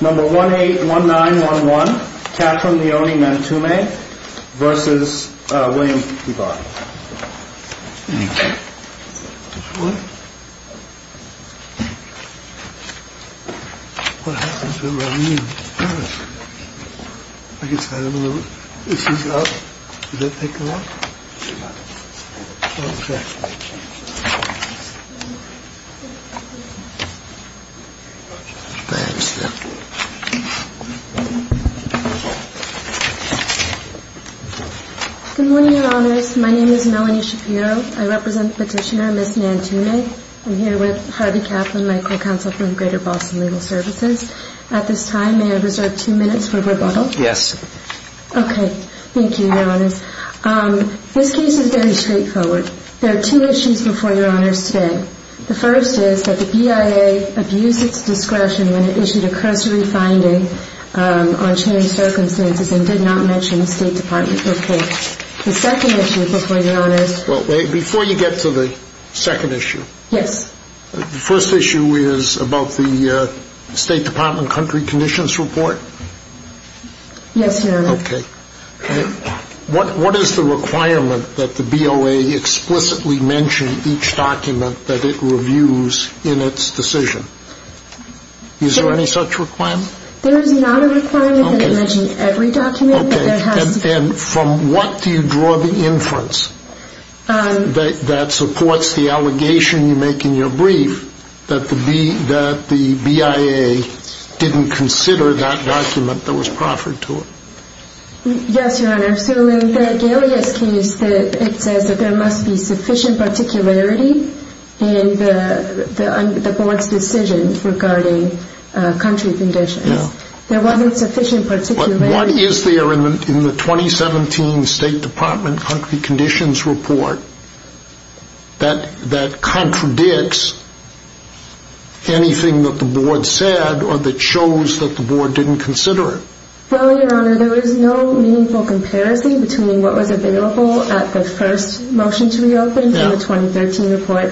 Number 181911 Catherine Leone Nantume v. William P. Barr Good morning, Your Honors. My name is Melanie Shapiro. I represent Petitioner Ms. Nantume. I'm here with Harvey Kaplan, my co-counsel for the Greater Boston Legal Services. At this time, may I reserve two minutes for rebuttal? Yes. Okay. Thank you, Your Honors. This case is very straightforward. There are two issues before Your Honors today. The first is that the BIA abused its discretion when it issued a copyrighted petition. The second issue before Your Honors... Before you get to the second issue... Yes. The first issue is about the State Department Country Conditions Report. Yes, Your Honors. Okay. What is the requirement that the BOA explicitly mention each document that it reviews in its decision? Is there any such requirement? There is not a requirement that it mentions every document. Okay. And from what do you draw the inference that supports the allegation you make in your brief that the BIA didn't consider that document that was proffered to it? Yes, Your Honors. So in the Galea's case, it says that there must be sufficient particularity in the Board's decision regarding country conditions. No. There wasn't sufficient particularity... What is there in the 2017 State Department Country Conditions Report that contradicts anything that the Board said or that shows that the Board didn't consider it? Well, Your Honor, there is no meaningful comparison between what was available at the first motion to reopen in the 2013 report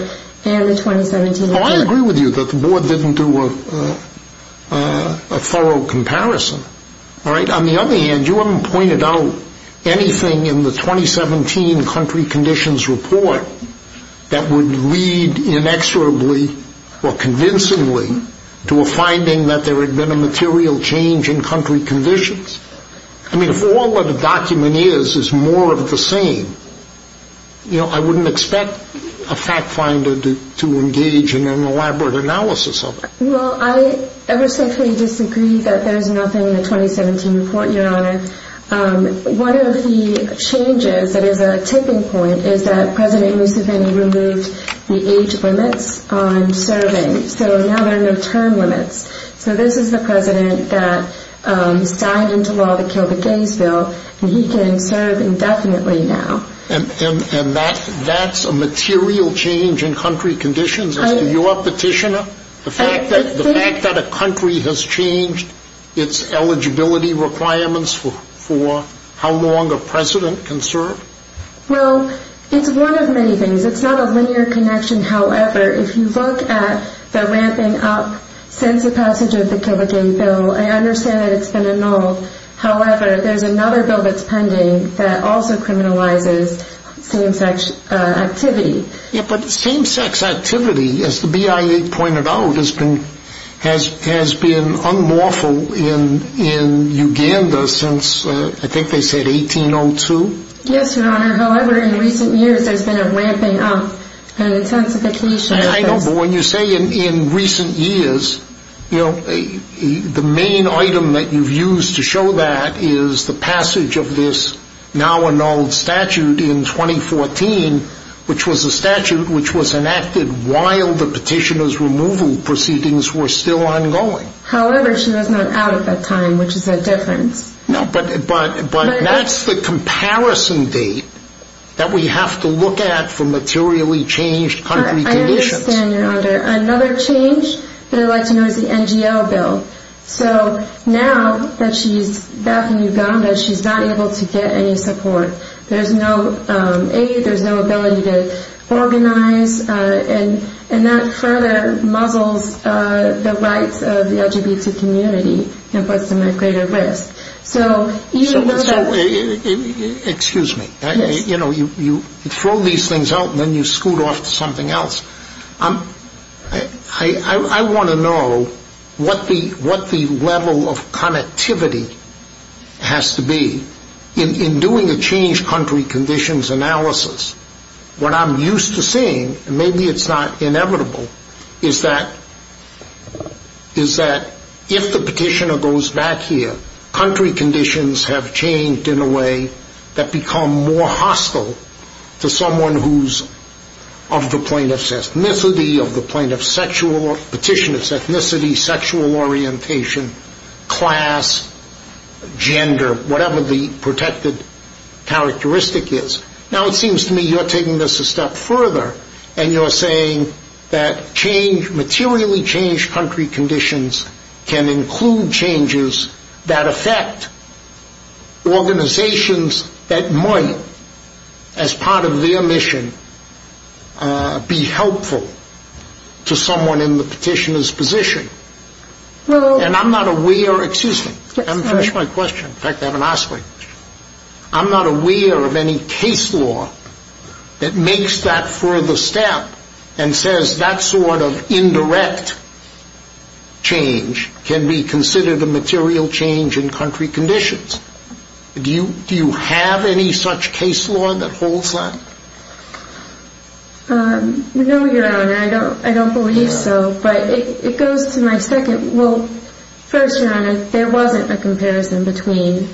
and the 2017... Oh, I agree with you that the Board didn't do a thorough comparison. All right? On the other hand, you haven't pointed out anything in the 2017 Country Conditions Report that would lead inexorably or convincingly to a finding that there had been a material change in country conditions. I mean, if all that a document is is more of the same, you know, I wouldn't expect a fact finder to engage in an elaborate analysis of it. Well, I ever so slightly disagree that there's nothing in the 2017 report, Your Honor. One of the changes that is a tipping point is that President Roosevelt removed the age limits on serving. So now there are no term limits. So this is the president that signed into law the Kill the Gays Bill, and he can serve indefinitely now. And that's a material change in country conditions as to your petitioner? The fact that a country has changed its eligibility requirements for how long a president can serve? Well, it's one of many things. It's not a linear connection. However, if you look at the ramping up since the passage of the Kill the Gays Bill, I understand that it's been a null. However, there's another bill that's pending that also criminalizes same-sex activity. Yeah, but same-sex activity, as the BIA pointed out, has been unlawful in Uganda since I think they said 1802. Yes, Your Honor. However, in recent years, there's been a ramping up and intensification. I know, but when you say in recent years, the main item that you've used to show that is the passage of this now annulled statute in 2014, which was a statute which was enacted while the petitioner's removal proceedings were still ongoing. However, she was not out at that time, which is a difference. No, but that's the comparison date that we have to look at for materially changed country conditions. I understand, Your Honor. Another change that I'd like to know is the NGO Bill. So now that she's back in Uganda, she's not able to get any support. There's no aid, there's no ability to organize, and that further muzzles the rights of the LGBT community and puts them at greater risk. Excuse me. You know, you throw these things out and then you scoot off to something else. I want to know what the level of connectivity has to be. In doing a changed country conditions analysis, what I'm used to seeing, and maybe it's not inevitable, is that if the petitioner goes back here, country conditions have changed in a way that become more hostile to someone who's of the plaintiff's ethnicity, of the plaintiff's sexual petitioner's ethnicity, sexual orientation, class, gender, whatever the protected characteristic is. Now it seems to me you're taking this a step further and you're saying that change, materially changed country conditions, can include changes that affect organizations that might, as part of their mission, be helpful to someone in the petitioner's position. And I'm not aware of any case law that makes that further step and says that sort of indirect change can be considered a material change in country conditions. Do you have any such case law that holds that? No, Your Honor. I don't believe so. But it goes to my second. Well, first, Your Honor, there wasn't a comparison between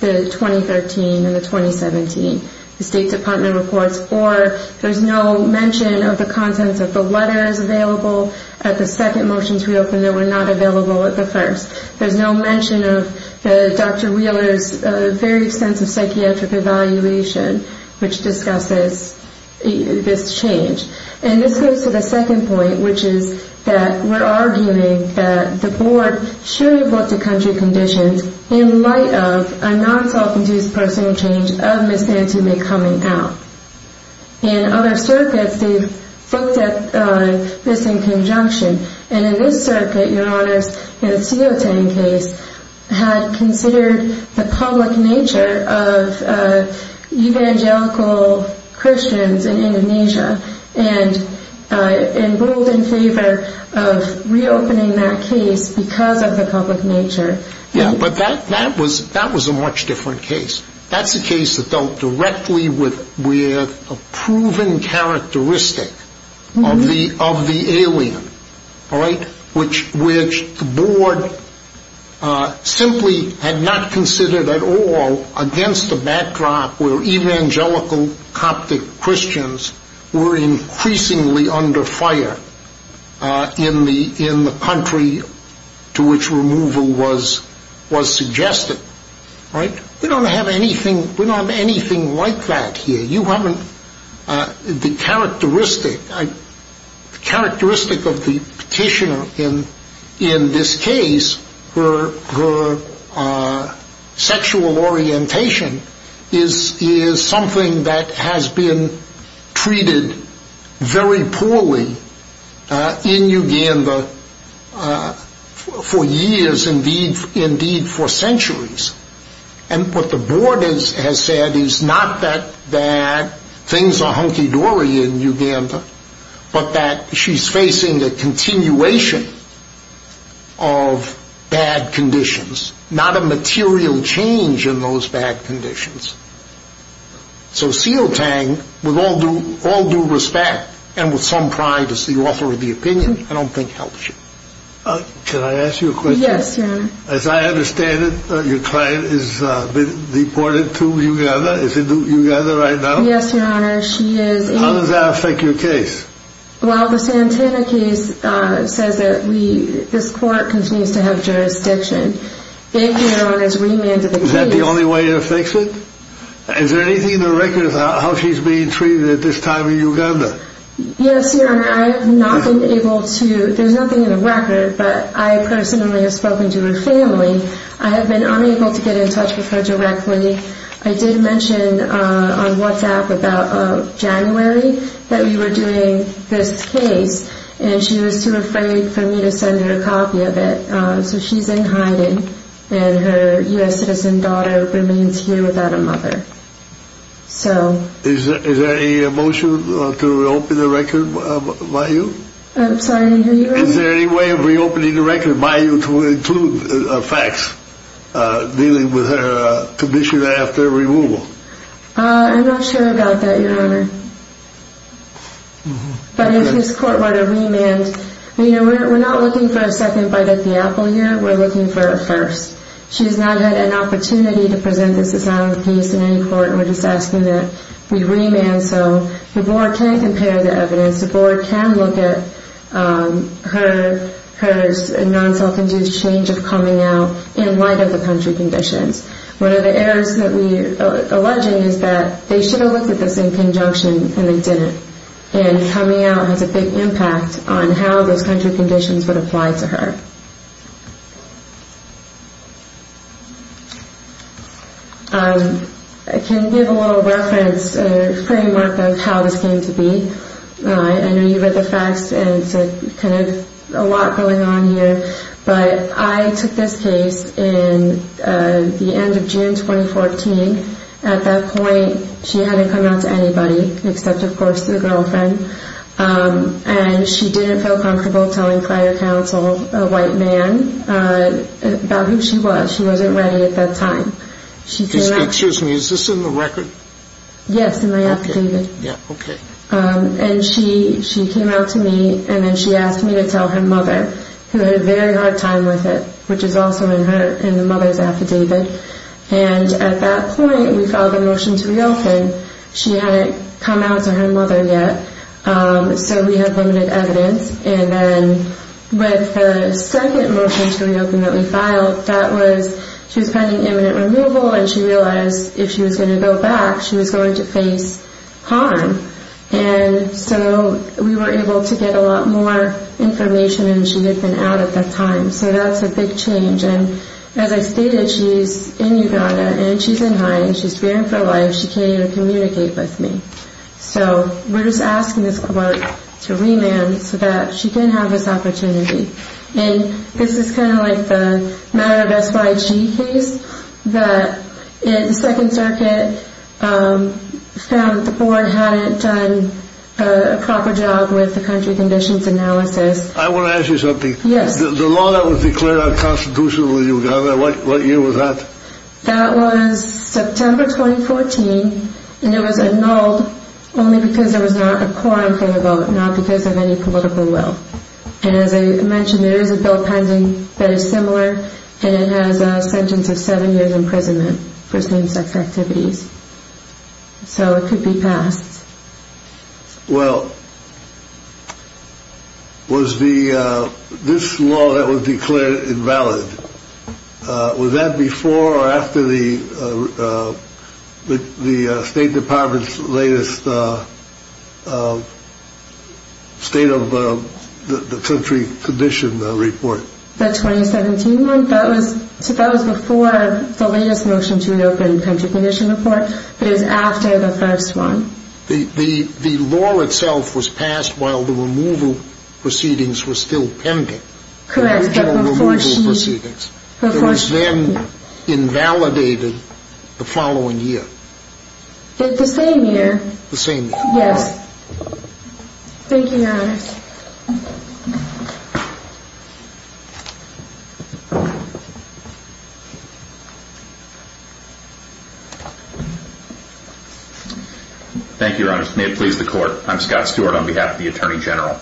the 2013 and the 2017 State Department reports, or there's no mention of the contents of the letters available at the second motions we opened that were not available at the first. There's no mention of Dr. Wheeler's very extensive psychiatric evaluation, which discusses this change. And this goes to the second point, which is that we're arguing that the board should have looked at country conditions in light of a non-self-induced personal change of Ms. Anthony coming out. In other circuits, they've looked at this in conjunction. And in this circuit, Your Honor, the Sioteng case had considered the public nature of evangelical Christians in Indonesia and ruled in favor of reopening that case because of the public nature. Yeah, but that was a much different case. That's a case that dealt directly with a proven characteristic of the alien, which the board simply had not considered at all against the backdrop where evangelical Coptic Christians were increasingly under fire in the country to which removal was suggested. We don't have anything like that here. The characteristic of the petitioner in this case, her sexual orientation, is something that has been treated very poorly in Uganda for years, indeed for centuries. And what the board has said is not that things are hunky-dory in Uganda, but that she's facing a continuation of bad conditions, not a material change in those bad conditions. So Sioteng, with all due respect and with some pride as the author of the opinion, I don't think helps you. Can I ask you a question? Yes, Your Honor. As I understand it, your client has been deported to Uganda. Is it in Uganda right now? Yes, Your Honor, she is in- How does that affect your case? Well, the Santana case says that this court continues to have jurisdiction. Thank you, Your Honor, for remanding the case. Is that the only way it affects it? Is there anything in the record about how she's being treated at this time in Uganda? Yes, Your Honor, I have not been able to... There's nothing in the record, but I personally have spoken to her family. I have been unable to get in touch with her directly. I did mention on WhatsApp about January that we were doing this case, and she was too afraid for me to send her a copy of it. So she's in hiding, and her U.S. citizen daughter remains here without a mother. Is there any motion to reopen the record by you? I'm sorry, I didn't hear you. Is there any way of reopening the record by you to include facts dealing with her condition after removal? I'm not sure about that, Your Honor. But if this court were to remand, we're not looking for a second bite at the apple here. We're looking for a first. She has not had an opportunity to present this Santana case in any court. We're just asking that we remand so the board can compare the evidence. The board can look at her non-self-induced change of coming out in light of the country conditions. One of the errors that we're alleging is that they should have looked at this in conjunction, and they didn't. And coming out has a big impact on how those country conditions would apply to her. I can give a little reference, a framework of how this came to be. I know you read the facts, and it's kind of a lot going on here. But I took this case in the end of June 2014. At that point, she hadn't come out to anybody except, of course, her girlfriend. And she didn't feel comfortable telling prior counsel, a white man, about who she was. She wasn't ready at that time. Excuse me, is this in the record? Yes, in my affidavit. And she came out to me, and then she asked me to tell her mother, who had a very hard time with it, which is also in the mother's affidavit. And at that point, we filed a motion to reopen. She hadn't come out to her mother yet, so we have limited evidence. And then with the second motion to reopen that we filed, that was she was planning imminent removal, and she realized if she was going to go back, she was going to face harm. And so we were able to get a lot more information than she had been out at that time. So that's a big change. And as I stated, she's in Uganda, and she's in high, and she's praying for life. And she can't even communicate with me. So we're just asking this court to remand so that she can have this opportunity. And this is kind of like the matter of SYG case. The Second Circuit found that the board hadn't done a proper job with the country conditions analysis. I want to ask you something. Yes. The law that was declared unconstitutionally in Uganda, what year was that? That was September 2014, and it was annulled only because there was not a quorum for the vote, not because of any political will. And as I mentioned, there is a bill pending that is similar, and it has a sentence of seven years imprisonment for same-sex activities. So it could be passed. Well, was this law that was declared invalid, was that before or after the State Department's latest state of the country condition report? The 2017 one? That was before the latest motion to an open country condition report, but it was after the first one. The law itself was passed while the removal proceedings were still pending. Correct, but before she – It was then invalidated the following year. The same year. Yes. Thank you, Your Honors. Thank you, Your Honors. May it please the Court. I'm Scott Stewart on behalf of the Attorney General.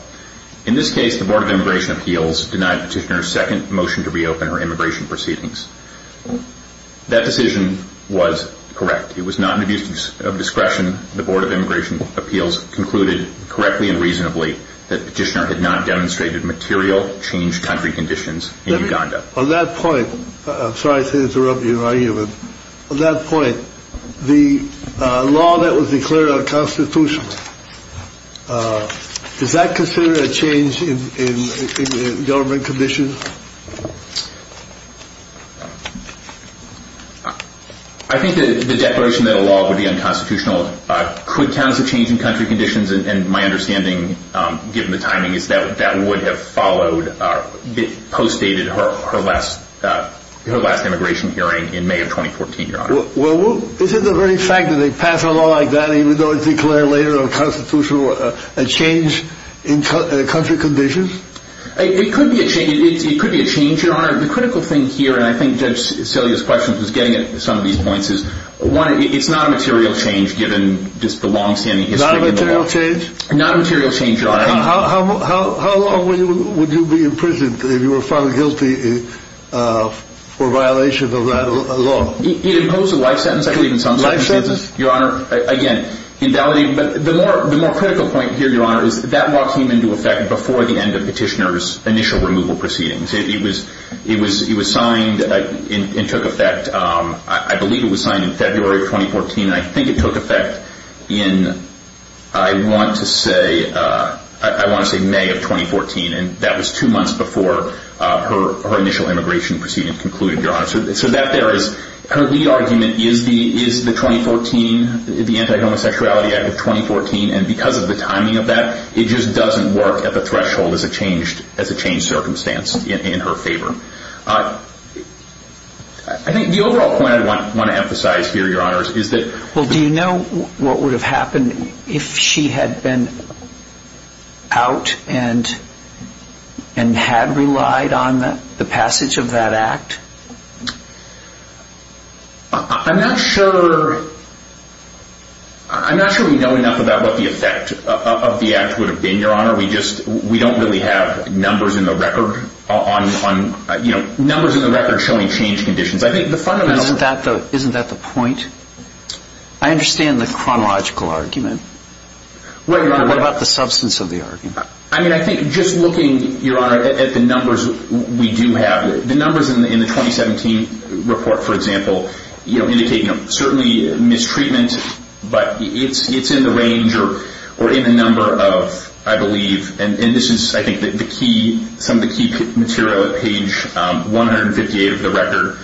In this case, the Board of Immigration Appeals denied Petitioner's second motion to reopen her immigration proceedings. That decision was correct. It was not an abuse of discretion. The Board of Immigration Appeals concluded correctly and reasonably On that point, I'm sorry to interrupt your argument. On that point, the law that was declared unconstitutional, is that considered a change in government conditions? I think the declaration that a law would be unconstitutional could count as a change in country conditions, and my understanding, given the timing, is that that would have followed – postdated her last immigration hearing in May of 2014, Your Honor. Well, is it the very fact that they pass a law like that, even though it's declared later unconstitutional, a change in country conditions? It could be a change, Your Honor. The critical thing here, and I think Judge Cillia's question was getting at some of these points, is one, it's not a material change given just the long-standing history of the law. Not a material change? Not a material change, Your Honor. How long would you be imprisoned if you were found guilty for violation of that law? It imposed a life sentence, I believe, in some cases. Life sentence? Your Honor, again, invalidating – but the more critical point here, Your Honor, is that law came into effect before the end of Petitioner's initial removal proceedings. It was signed and took effect – I believe it was signed in February of 2014, and I think it took effect in, I want to say, May of 2014, and that was two months before her initial immigration proceedings concluded, Your Honor. So that there is – her lead argument is the 2014 – the Anti-Homosexuality Act of 2014, and because of the timing of that, it just doesn't work at the threshold as a changed circumstance in her favor. I think the overall point I want to emphasize here, Your Honor, is that – Well, do you know what would have happened if she had been out and had relied on the passage of that act? I'm not sure we know enough about what the effect of the act would have been, Your Honor. We just – we don't really have numbers in the record on – numbers in the record showing changed conditions. I think the fundamental – Isn't that the point? I understand the chronological argument. What about the substance of the argument? I mean, I think just looking, Your Honor, at the numbers we do have, the numbers in the 2017 report, for example, indicate certainly mistreatment, but it's in the range or in the number of, I believe – and this is, I think, the key – some of the key material at page 158 of the record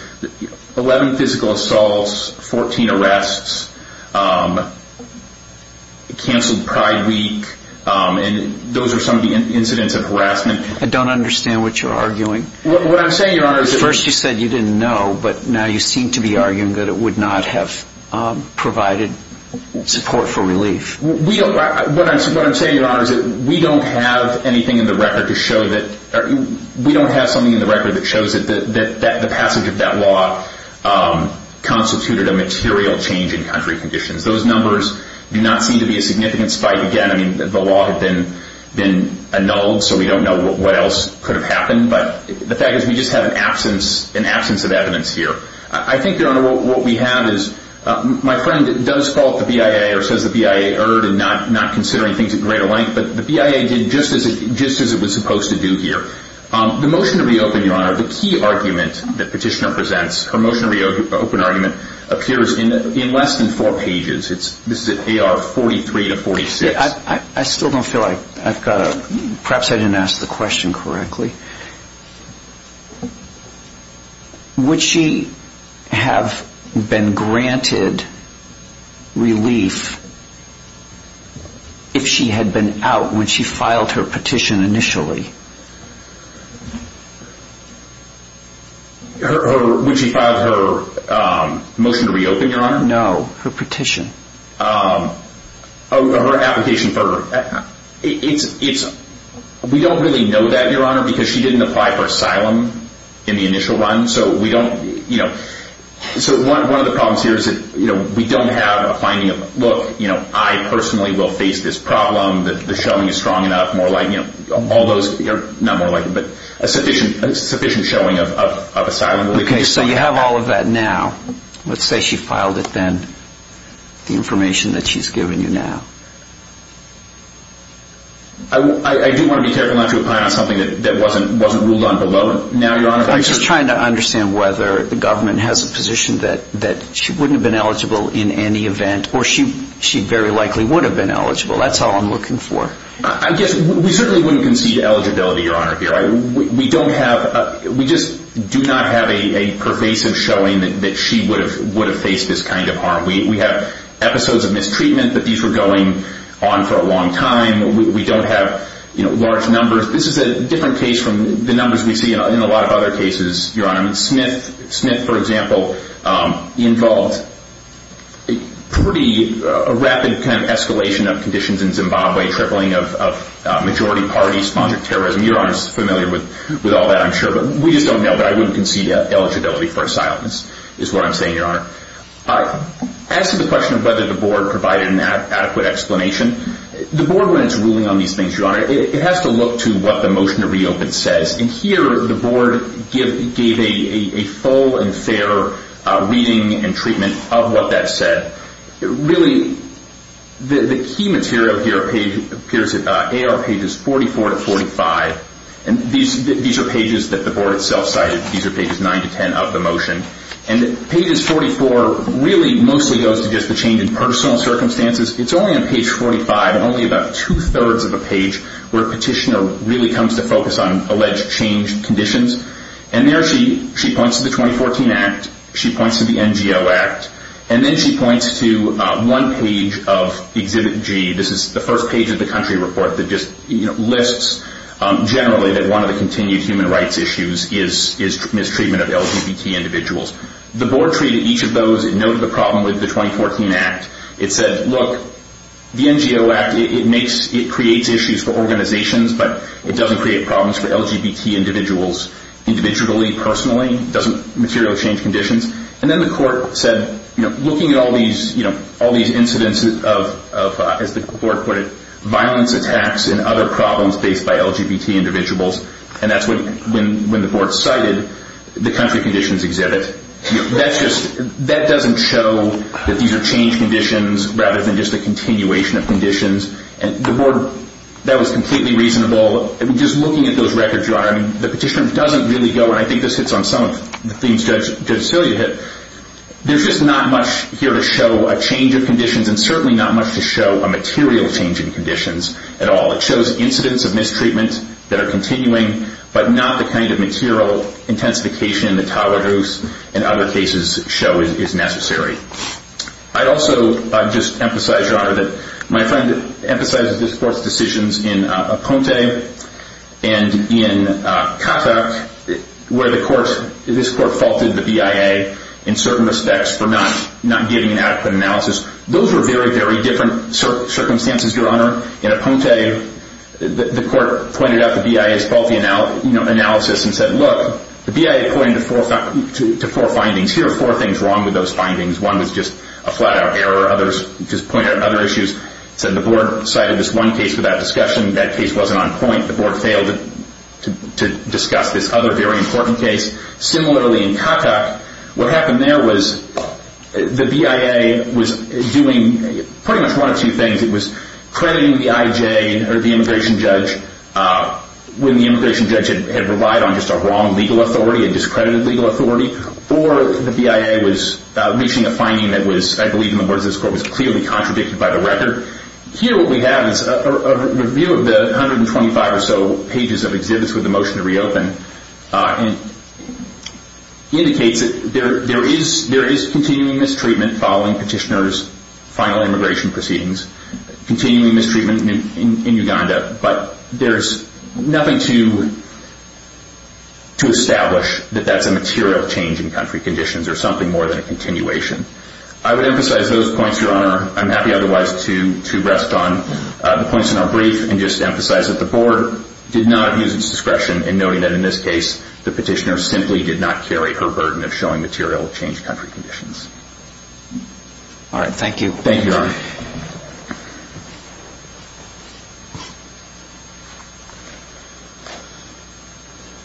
– 11 physical assaults, 14 arrests, canceled Pride Week, and those are some of the incidents of harassment. I don't understand what you're arguing. What I'm saying, Your Honor, is that – First you said you didn't know, but now you seem to be arguing that it would not have provided support for relief. What I'm saying, Your Honor, is that we don't have anything in the record to show that – we don't have something in the record that shows that the passage of that law constituted a material change in country conditions. Those numbers do not seem to be a significant spike. Again, I mean, the law had been annulled, so we don't know what else could have happened, but the fact is we just have an absence of evidence here. I think, Your Honor, what we have is – my friend does call up the BIA or says the BIA erred in not considering things at greater length, but the BIA did just as it was supposed to do here. The motion to reopen, Your Honor, the key argument that Petitioner presents, her motion to reopen argument, appears in less than four pages. This is at AR 43 to 46. I still don't feel I've got a – perhaps I didn't ask the question correctly. Would she have been granted relief if she had been out when she filed her petition initially? When she filed her motion to reopen, Your Honor? No, her petition. Oh, her application for – it's – we don't really know that, Your Honor, because she didn't apply for asylum in the initial run, so we don't – so one of the problems here is that we don't have a finding of, look, I personally will face this problem, the showing is strong enough, more likely – all those – not more likely, but a sufficient showing of asylum. Okay, so you have all of that now. Let's say she filed it then, the information that she's giving you now. I do want to be careful not to apply on something that wasn't ruled on below. Now, Your Honor, if I could – I'm just trying to understand whether the government has a position that she wouldn't have been eligible in any event, or she very likely would have been eligible. That's all I'm looking for. I guess we certainly wouldn't concede eligibility, Your Honor, here. We don't have – we just do not have a pervasive showing that she would have faced this kind of harm. We have episodes of mistreatment, but these were going on for a long time. We don't have large numbers. This is a different case from the numbers we see in a lot of other cases, Your Honor. Smith, for example, involved pretty – a rapid kind of escalation of conditions in Zimbabwe, a tripling of majority party sponsored terrorism. Your Honor is familiar with all that, I'm sure, but we just don't know. But I wouldn't concede eligibility for asylum is what I'm saying, Your Honor. As to the question of whether the Board provided an adequate explanation, the Board, when it's ruling on these things, Your Honor, it has to look to what the motion to reopen says. And here the Board gave a full and fair reading and treatment of what that said. Really, the key material here appears on pages 44 to 45. And these are pages that the Board itself cited. These are pages 9 to 10 of the motion. And pages 44 really mostly goes to just the change in personal circumstances. It's only on page 45, only about two-thirds of a page, where a petitioner really comes to focus on alleged change conditions. And there she points to the 2014 Act. She points to the NGO Act. And then she points to one page of Exhibit G. This is the first page of the country report that just lists, generally, that one of the continued human rights issues is mistreatment of LGBT individuals. The Board treated each of those and noted the problem with the 2014 Act. It said, look, the NGO Act, it creates issues for organizations, but it doesn't create problems for LGBT individuals individually, personally. It doesn't materially change conditions. And then the Court said, looking at all these incidents of, as the Court put it, violence attacks and other problems faced by LGBT individuals, and that's when the Board cited the country conditions exhibit, that doesn't show that these are change conditions rather than just a continuation of conditions. And the Board, that was completely reasonable. Just looking at those records, Your Honor, the petitioner doesn't really go, and I think this hits on some of the themes Judge Celia hit, there's just not much here to show a change of conditions and certainly not much to show a material change in conditions at all. It shows incidents of mistreatment that are continuing, but not the kind of material intensification that Tawadros and other cases show is necessary. I'd also just emphasize, Your Honor, that my friend emphasizes this Court's decisions in Aponte and in Katak, where this Court faulted the BIA in certain respects for not getting an adequate analysis. Those were very, very different circumstances, Your Honor. In Aponte, the Court pointed out the BIA's faulty analysis and said, look, the BIA pointed to four findings. Here are four things wrong with those findings. One was just a flat-out error. Others just pointed out other issues. Said the Board cited this one case for that discussion. That case wasn't on point. The Board failed to discuss this other very important case. Similarly in Katak, what happened there was the BIA was doing pretty much one of two things. It was crediting the IJ or the immigration judge when the immigration judge had relied on just a wrong legal authority, a discredited legal authority, or the BIA was reaching a finding that was, I believe in the words of this Court, was clearly contradicted by the record. Here what we have is a review of the 125 or so pages of exhibits with the motion to reopen. It indicates that there is continuing mistreatment following petitioner's final immigration proceedings, continuing mistreatment in Uganda, but there's nothing to establish that that's a material change in country conditions or something more than a continuation. I would emphasize those points, Your Honor. I'm happy otherwise to rest on the points in our brief and just emphasize that the Board did not use its discretion in noting that in this case, the petitioner simply did not carry her burden of showing material change in country conditions. All right. Thank you. Thank you, Your Honor.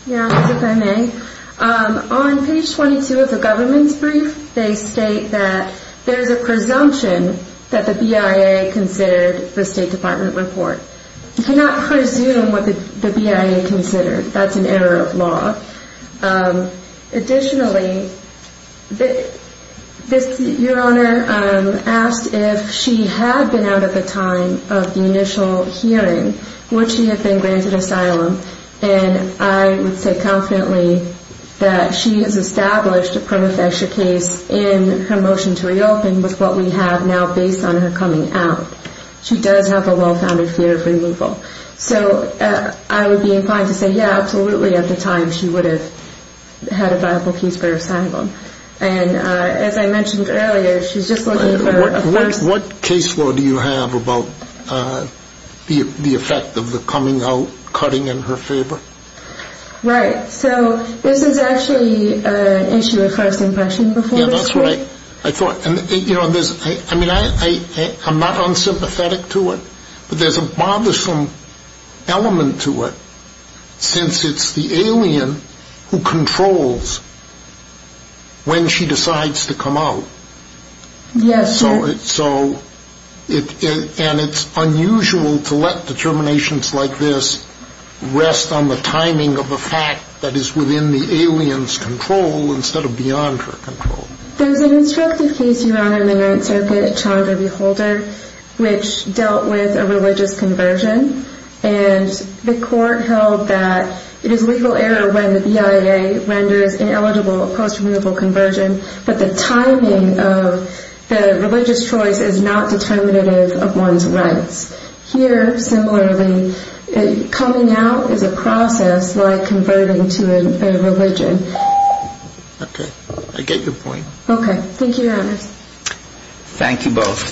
Your Honor, if I may, on page 22 of the government's brief, they state that there's a presumption that the BIA considered the State Department report. You cannot presume what the BIA considered. That's an error of law. Additionally, Your Honor asked if she had been out at the time of the initial hearing, would she have been granted asylum, and I would say confidently that she has established a prima facie case in her motion to reopen with what we have now based on her coming out. She does have a well-founded fear of removal. So I would be inclined to say, yeah, absolutely, at the time she would have had a viable case for asylum. And as I mentioned earlier, she's just looking for a person. What case law do you have about the effect of the coming out cutting in her favor? Right. So this is actually an issue of first impression before this court. Yeah, that's right. I thought, you know, I mean, I'm not unsympathetic to it, but there's a bothersome element to it since it's the alien who controls when she decides to come out. Yes. So it's unusual to let determinations like this rest on the timing of a fact that is within the alien's control instead of beyond her control. There's an instructive case, Your Honor, in the Ninth Circuit, a child of a beholder, which dealt with a religious conversion, and the court held that it is a legal error when the BIA renders ineligible a post-removal conversion, but the timing of the religious choice is not determinative of one's rights. Here, similarly, coming out is a process like converting to a religion. Okay. I get your point. Okay. Thank you, Your Honor. Thank you both.